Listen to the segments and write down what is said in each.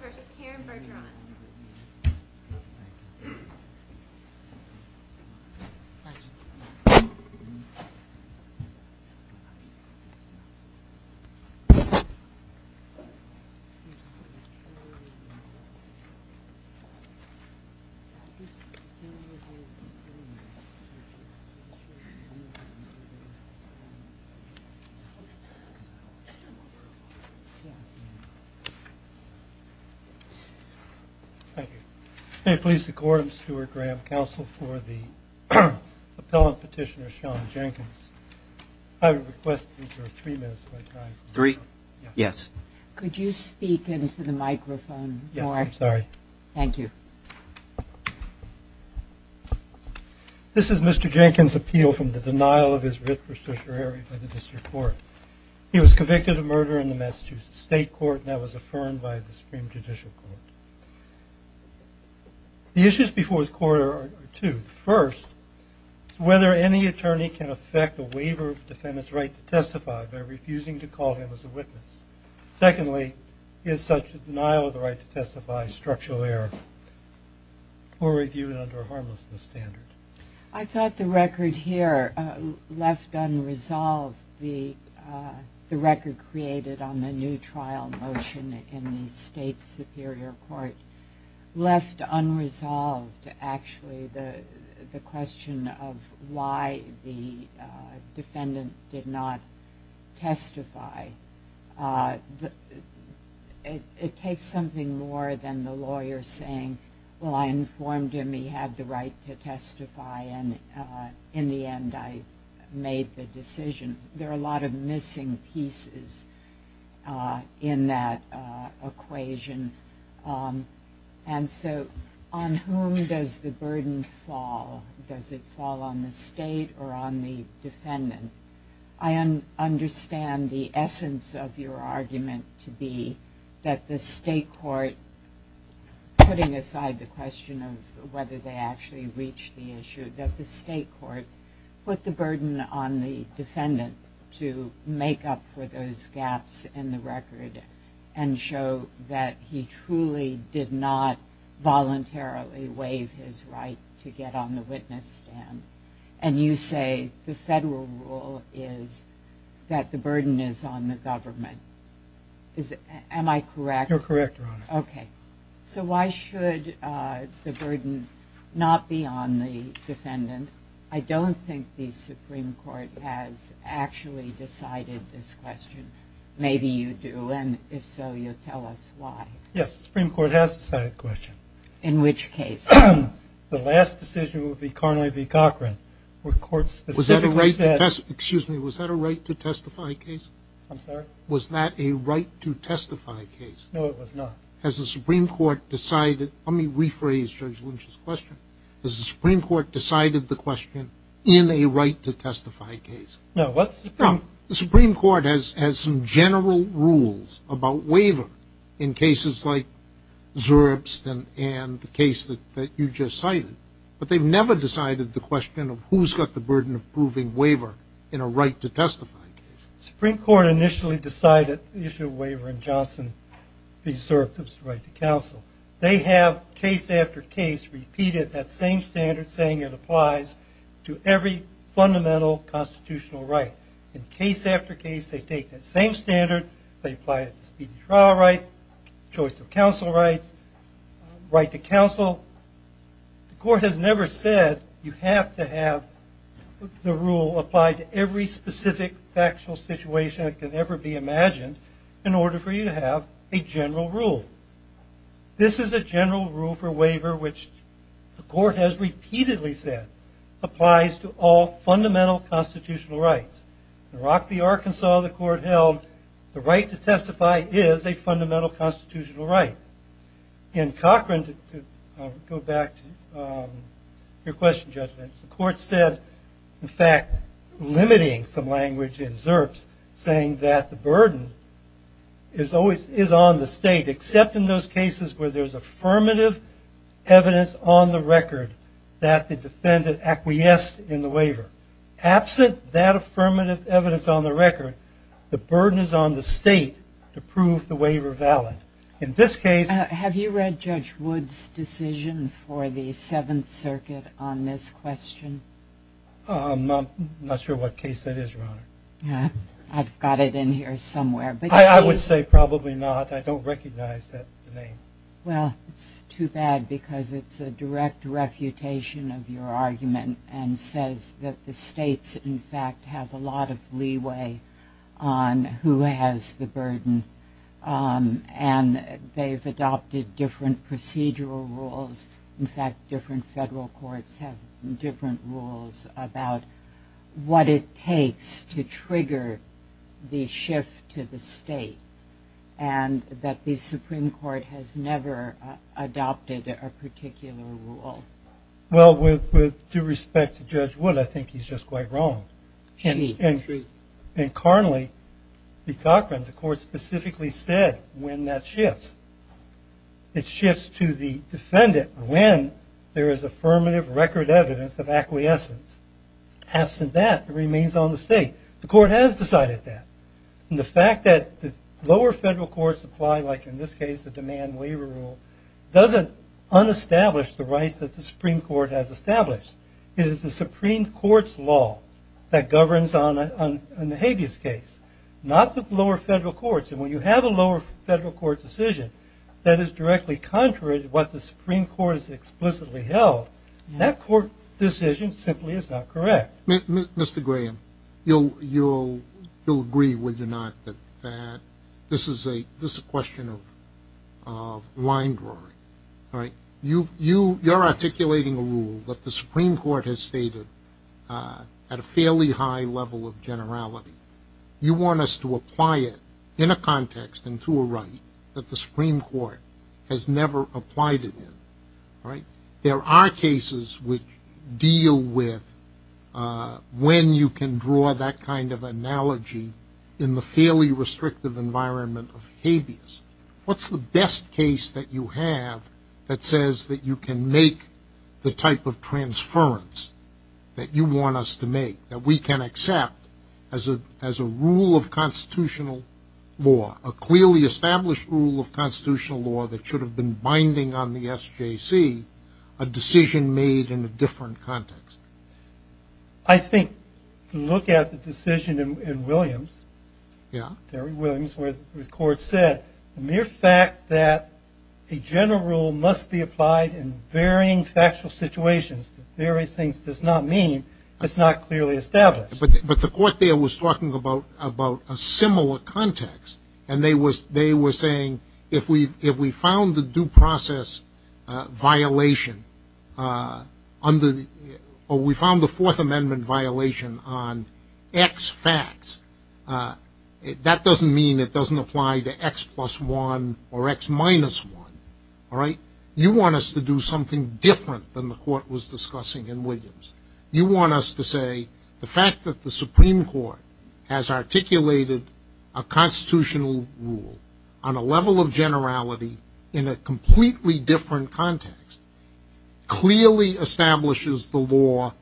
v. Karen Bergeron Thank you. May it please the Court, I'm Stuart Graham, counsel for the appellant petitioner Sean Jenkins. I would request you for three minutes of my time. Three? Yes. Could you speak into the microphone more? Yes, I'm sorry. Thank you. This is Mr. Jenkins' appeal from the denial of his writ for certiorari by the district court. He was convicted of murder in the Massachusetts State Court and that was affirmed by the Supreme Judicial Court. The issues before this court are two. First, whether any attorney can affect a waiver of defendant's right to testify by refusing to call him as a witness. Secondly, is such a denial of the right to testify structural error or reviewed under a harmlessness standard? I thought the record here, left unresolved, the record created on the new trial motion in the State Superior Court, left unresolved actually the question of why the defendant did not testify. It takes something more than the lawyer saying, well, I informed him he had the right to testify and in the end I made the decision. There are a lot of missing pieces in that equation. And so on whom does the burden fall? Does it fall on the state or on the defendant? I understand the essence of your argument to be that the state court, putting aside the question of whether they actually reached the issue, that the state court put the burden on the defendant to make up for those gaps in the record and show that he truly did not voluntarily waive his right to get on the witness stand. And you say the federal rule is that the burden is on the government. Am I correct? You're correct, Your Honor. Okay. So why should the burden not be on the defendant? I don't think the Supreme Court has actually decided this question. Maybe you do, and if so, you'll tell us why. Yes, the Supreme Court has decided the question. In which case? The last decision would be Carney v. Cochran, where courts specifically said. Excuse me, was that a right to testify case? I'm sorry? Was that a right to testify case? No, it was not. Has the Supreme Court decided? Let me rephrase Judge Lynch's question. Has the Supreme Court decided the question in a right to testify case? No. The Supreme Court has some general rules about waiver in cases like Zurbstan and the case that you just cited, but they've never decided the question of who's got the burden of proving waiver in a right to testify case. The Supreme Court initially decided the issue of waiver in Johnson v. Zurbstan's right to counsel. They have, case after case, repeated that same standard, saying it applies to every fundamental constitutional right. In case after case, they take that same standard, they apply it to speedy trial rights, choice of counsel rights, right to counsel. The court has never said you have to have the rule apply to every specific factual situation that can ever be imagined in order for you to have a general rule. This is a general rule for waiver, which the court has repeatedly said applies to all fundamental constitutional rights. In Rock v. Arkansas, the court held the right to testify is a fundamental constitutional right. In Cochran, to go back to your question, Judge Lynch, the court said, in fact, limiting some language in ZURPS, saying that the burden is on the state, except in those cases where there's affirmative evidence on the record that the defendant acquiesced in the waiver. Absent that affirmative evidence on the record, the burden is on the state to prove the waiver valid. In this case- Have you read Judge Wood's decision for the Seventh Circuit on this question? I'm not sure what case that is, Your Honor. I've got it in here somewhere. I would say probably not. I don't recognize that name. Well, it's too bad because it's a direct refutation of your argument and says that the states, in fact, have a lot of leeway on who has the burden, and they've adopted different procedural rules. In fact, different federal courts have different rules about what it takes to trigger the shift to the state, and that the Supreme Court has never adopted a particular rule. Well, with due respect to Judge Wood, I think he's just quite wrong. She. And currently, in Cochran, the court specifically said when that shifts, it shifts to the defendant when there is affirmative record evidence of acquiescence. Absent that, it remains on the state. The court has decided that. And the fact that the lower federal courts apply, like in this case, the demand waiver rule, doesn't unestablish the rights that the Supreme Court has established. It is the Supreme Court's law that governs on the habeas case, not the lower federal courts. And when you have a lower federal court decision that is directly contrary to what the Supreme Court has explicitly held, that court decision simply is not correct. Mr. Graham, you'll agree, will you not, that this is a question of line drawing. You're articulating a rule that the Supreme Court has stated at a fairly high level of generality. You want us to apply it in a context and to a right that the Supreme Court has never applied it in. There are cases which deal with when you can draw that kind of analogy in the fairly restrictive environment of habeas. What's the best case that you have that says that you can make the type of as a rule of constitutional law, a clearly established rule of constitutional law that should have been binding on the SJC, a decision made in a different context? I think to look at the decision in Williams, Terry Williams, where the court said the mere fact that a general rule must be applied in varying factual situations, various things, does not mean it's not clearly established. But the court there was talking about a similar context, and they were saying if we found the due process violation or we found the Fourth Amendment violation on X facts, that doesn't mean it doesn't apply to X plus 1 or X minus 1. You want us to do something different than the court was discussing in Williams. You want us to say the fact that the Supreme Court has articulated a constitutional rule on a level of generality in a completely different context clearly establishes the law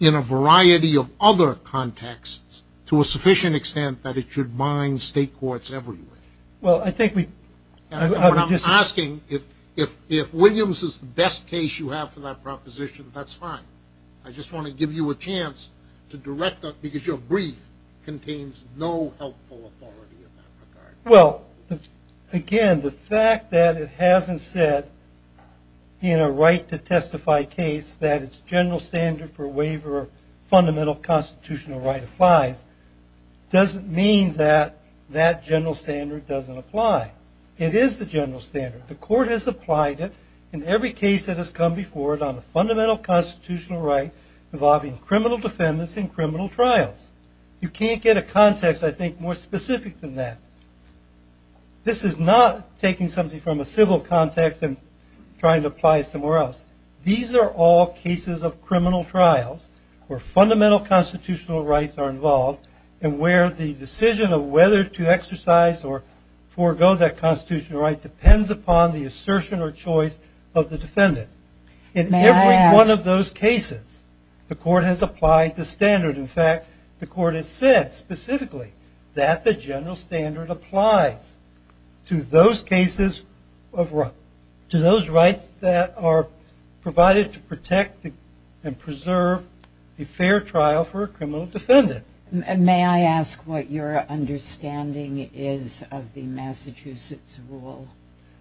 in a variety of other contexts to a sufficient extent that it should bind state courts everywhere. Well, I think we – I'm asking if Williams is the best case you have for that proposition, that's fine. I just want to give you a chance to direct that because your brief contains no helpful authority in that regard. Well, again, the fact that it hasn't said in a right-to-testify case that its general standard for waiver of fundamental constitutional right applies doesn't mean that that general standard doesn't apply. It is the general standard. The court has applied it in every case that has come before it on the fundamental constitutional right involving criminal defendants in criminal trials. You can't get a context, I think, more specific than that. This is not taking something from a civil context and trying to apply it somewhere else. These are all cases of criminal trials where fundamental constitutional rights are involved and where the decision of whether to exercise or forego that constitutional right depends upon the assertion or choice of the defendant. May I ask – In every one of those cases, the court has applied the standard. In fact, the court has said specifically that the general standard applies to those cases of – to those rights that are provided to protect and preserve a fair trial for a criminal defendant. May I ask what your understanding is of the Massachusetts rule?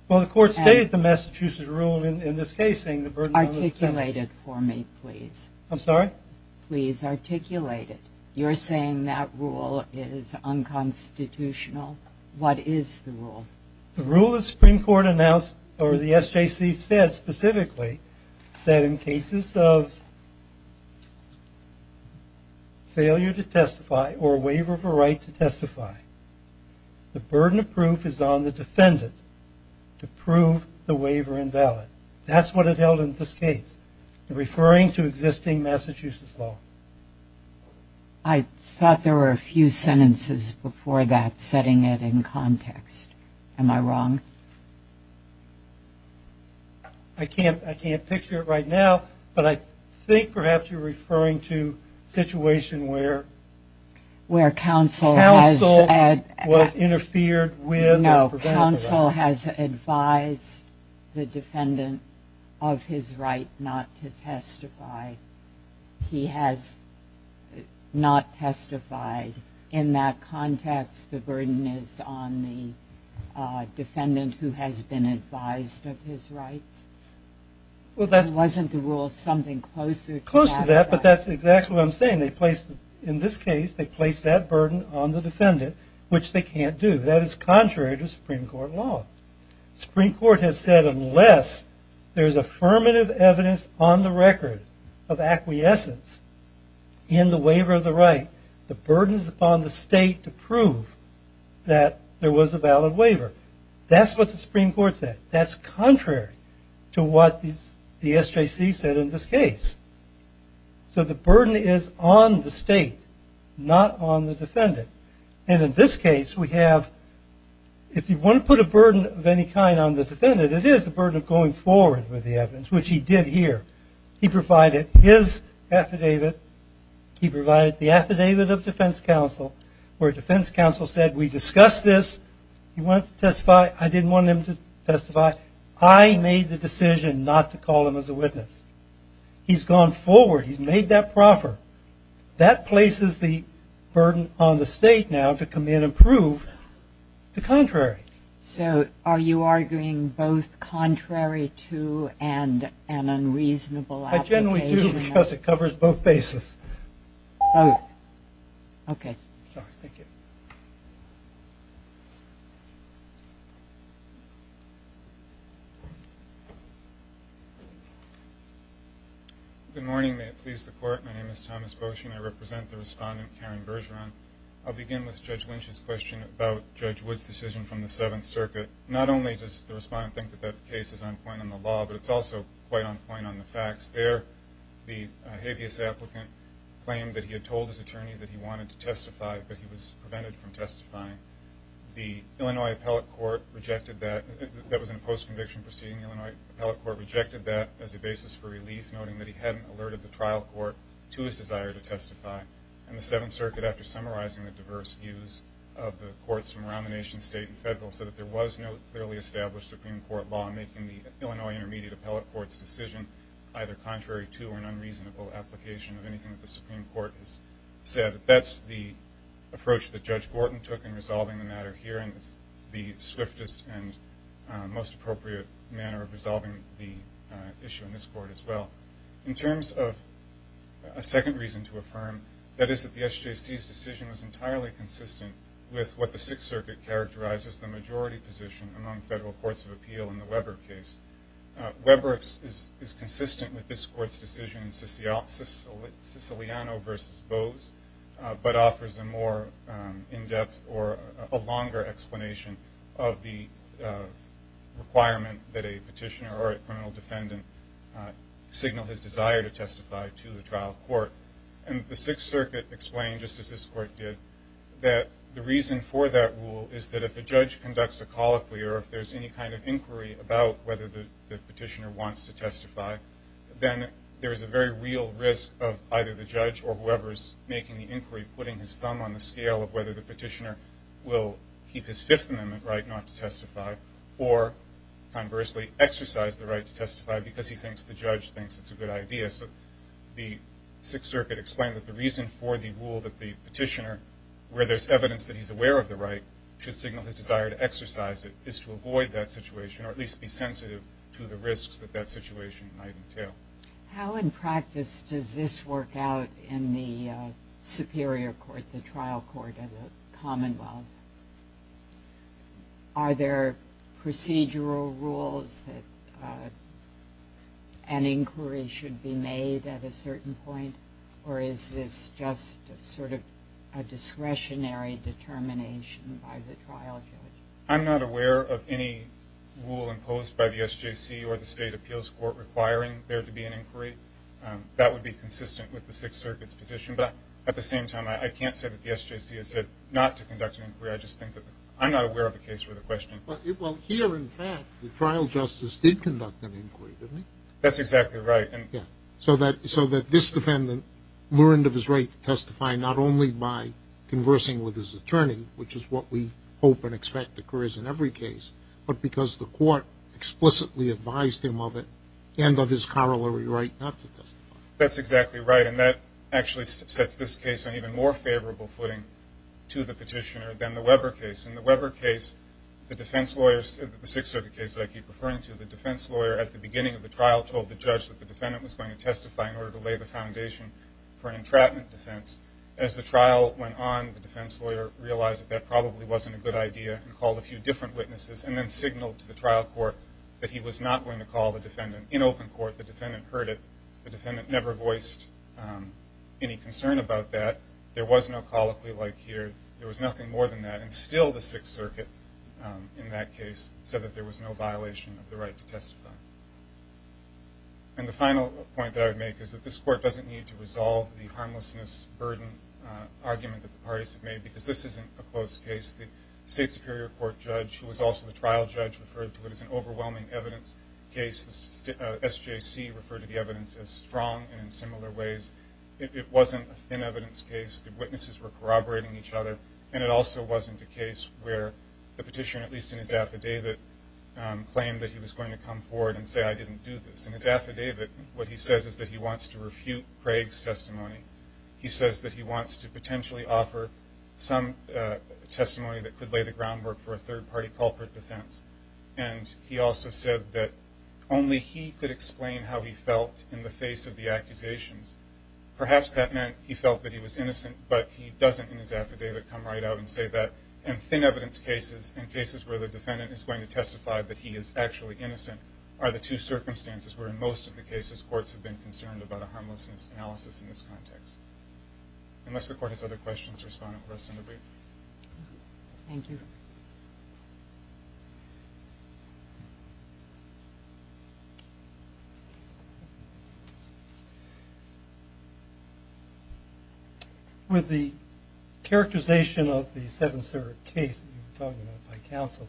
Well, the court stated the Massachusetts rule in this case saying the burden of – Articulate it for me, please. I'm sorry? Please articulate it. You're saying that rule is unconstitutional. What is the rule? The rule the Supreme Court announced or the SJC said specifically that in cases of failure to testify or waiver of a right to testify, the burden of proof is on the defendant to prove the waiver invalid. That's what it held in this case, referring to existing Massachusetts law. I thought there were a few sentences before that setting it in context. Am I wrong? I can't picture it right now, but I think perhaps you're referring to a situation where – was interfered with or prevented from. No, counsel has advised the defendant of his right not to testify. He has not testified. In that context, the burden is on the defendant who has been advised of his rights. Wasn't the rule something closer to that? Closer to that, but that's exactly what I'm saying. In this case, they place that burden on the defendant, which they can't do. That is contrary to Supreme Court law. The Supreme Court has said unless there's affirmative evidence on the record of acquiescence in the waiver of the right, the burden is upon the state to prove that there was a valid waiver. That's what the Supreme Court said. That's contrary to what the SJC said in this case. So the burden is on the state, not on the defendant. And in this case, we have – if you want to put a burden of any kind on the defendant, it is the burden of going forward with the evidence, which he did here. He provided his affidavit. He provided the affidavit of defense counsel where defense counsel said we discussed this. He wanted to testify. I didn't want him to testify. I made the decision not to call him as a witness. He's gone forward. He's made that proffer. That places the burden on the state now to come in and prove the contrary. So are you arguing both contrary to and an unreasonable application? I generally do because it covers both bases. Both. Okay. Sorry, thank you. Good morning. May it please the Court. My name is Thomas Boshin. I represent the respondent, Karen Bergeron. I'll begin with Judge Lynch's question about Judge Wood's decision from the Seventh Circuit. Not only does the respondent think that that case is on point on the law, but it's also quite on point on the facts there. The habeas applicant claimed that he had told his attorney that he wanted to testify, but he was prevented from testifying. The Illinois Appellate Court rejected that. That was in a post-conviction proceeding. The Illinois Appellate Court rejected that as a basis for relief, noting that he hadn't alerted the trial court to his desire to testify. And the Seventh Circuit, after summarizing the diverse views of the courts from around the nation, state, and federal, said that there was no clearly established Supreme Court law making the Illinois Intermediate Appellate Court's decision either contrary to or an unreasonable application of anything that the Supreme Court has said. That's the approach that Judge Gorton took in resolving the matter here, and it's the swiftest and most appropriate manner of resolving the issue in this court as well. In terms of a second reason to affirm, that is that the SJC's decision was entirely consistent with what the Sixth Circuit characterized as the majority position among federal courts of appeal in the Weber case. Weber is consistent with this court's decision in Siciliano v. Bowes, but offers a more in-depth or a longer explanation of the requirement that a petitioner or a criminal defendant signal his desire to testify to the trial court. And the Sixth Circuit explained, just as this court did, that the reason for that rule is that if a judge conducts a colloquy or if there's any kind of inquiry about whether the petitioner wants to testify, then there is a very real risk of either the judge or whoever's making the inquiry putting his thumb on the scale of whether the petitioner will keep his Fifth Amendment right not to testify or, conversely, exercise the right to testify because he thinks the judge thinks it's a good idea. So the Sixth Circuit explained that the reason for the rule that the petitioner, where there's evidence that he's aware of the right, should signal his desire to exercise it is to avoid that situation or at least be sensitive to the risks that that situation might entail. How in practice does this work out in the Superior Court, the trial court of the Commonwealth? Are there procedural rules that an inquiry should be made at a certain point, or is this just sort of a discretionary determination by the trial judge? I'm not aware of any rule imposed by the SJC or the State Appeals Court requiring there to be an inquiry. That would be consistent with the Sixth Circuit's position. But at the same time, I can't say that the SJC has said not to conduct an inquiry. I just think that the – I'm not aware of a case where the question – Well, here, in fact, the trial justice did conduct an inquiry, didn't he? That's exactly right. So that this defendant learned of his right to testify not only by conversing with his attorney, which is what we hope and expect occurs in every case, but because the court explicitly advised him of it and of his corollary right not to testify. That's exactly right. And that actually sets this case on even more favorable footing to the petitioner than the Weber case. In the Weber case, the defense lawyers – the Sixth Circuit case that I keep referring to – the defense lawyer at the beginning of the trial told the judge that the defendant was going to testify in order to lay the foundation for an entrapment defense. As the trial went on, the defense lawyer realized that that probably wasn't a good idea and called a few different witnesses and then signaled to the trial court that he was not going to call the defendant. In open court, the defendant heard it. The defendant never voiced any concern about that. There was no colloquy like here. There was nothing more than that. And still the Sixth Circuit in that case said that there was no violation of the right to testify. And the final point that I would make is that this court doesn't need to resolve the harmlessness burden argument that the parties have made because this isn't a closed case. The State Superior Court judge, who was also the trial judge, referred to it as an overwhelming evidence case. The SJC referred to the evidence as strong and in similar ways. It wasn't a thin evidence case. The witnesses were corroborating each other. And it also wasn't a case where the petitioner, at least in his affidavit, claimed that he was going to come forward and say, I didn't do this. In his affidavit, what he says is that he wants to refute Craig's testimony. He says that he wants to potentially offer some testimony that could lay the groundwork for a third-party culprit defense. And he also said that only he could explain how he felt in the face of the accusations. Perhaps that meant he felt that he was innocent, but he doesn't in his affidavit come right out and say that. And thin evidence cases and cases where the defendant is going to testify that he is actually innocent are the two circumstances where in most of the cases courts have been concerned about a harmlessness analysis in this context. Unless the court has other questions, the respondent will rest and debrief. Thank you. Thank you. With the characterization of the Seventh Circuit case that you were talking about by counsel,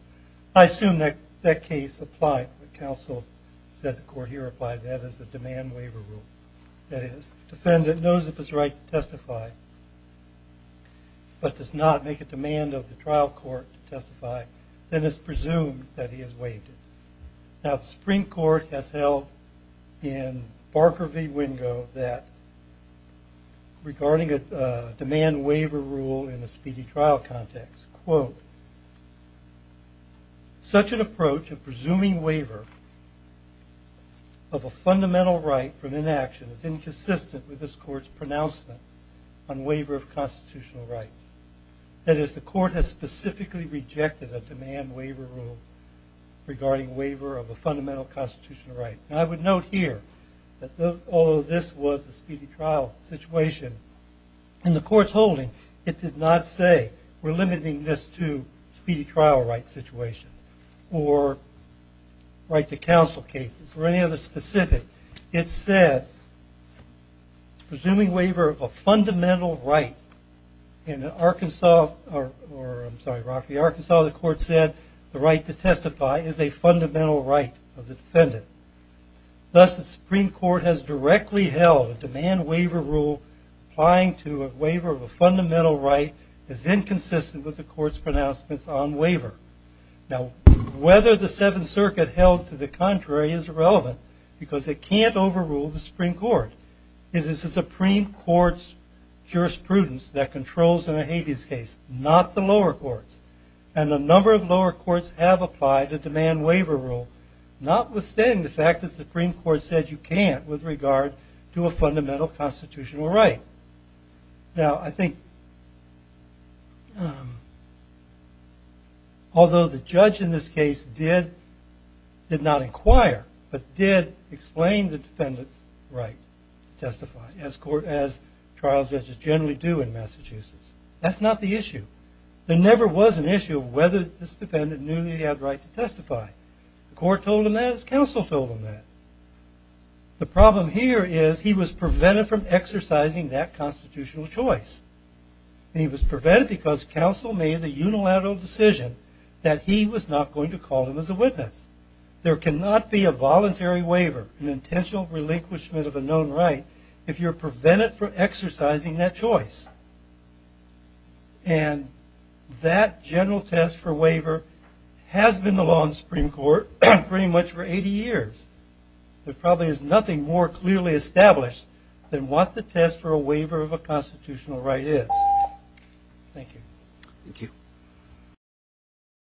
I assume that that case applied. The counsel said the court here applied that as a demand waiver rule. That is, defendant knows of his right to testify, but does not make a demand of the trial court to testify, then it's presumed that he has waived it. Now, the Supreme Court has held in Barker v. Wingo that, regarding a demand waiver rule in a speedy trial context, quote, such an approach of presuming waiver of a fundamental right for an inaction is inconsistent with this court's pronouncement on waiver of constitutional rights. That is, the court has specifically rejected a demand waiver rule regarding waiver of a fundamental constitutional right. And I would note here that although this was a speedy trial situation in the courtroom, speedy trial right situation, or right to counsel cases, or any other specific, it said, presuming waiver of a fundamental right in Arkansas, or I'm sorry, Rocky, Arkansas, the court said, the right to testify is a fundamental right of the defendant. Thus, the Supreme Court has directly held a demand waiver rule applying to a court's pronouncements on waiver. Now, whether the Seventh Circuit held to the contrary is irrelevant because it can't overrule the Supreme Court. It is the Supreme Court's jurisprudence that controls in a habeas case, not the lower courts. And a number of lower courts have applied a demand waiver rule, notwithstanding the fact that the Supreme Court said you can't with regard to a fundamental constitutional right. Now, I think although the judge in this case did not inquire, but did explain the defendant's right to testify, as trial judges generally do in Massachusetts. That's not the issue. There never was an issue of whether this defendant knew he had the right to testify. The court told him that. His counsel told him that. The problem here is he was prevented from exercising that constitutional choice. And he was prevented because counsel made the unilateral decision that he was not going to call him as a witness. There cannot be a voluntary waiver, an intentional relinquishment of a known right, if you're prevented from exercising that choice. And that general test for waiver has been the law in the Supreme Court pretty much for 80 years. There probably is nothing more clearly established than what the test for a waiver of a constitutional right is. Thank you. Thank you.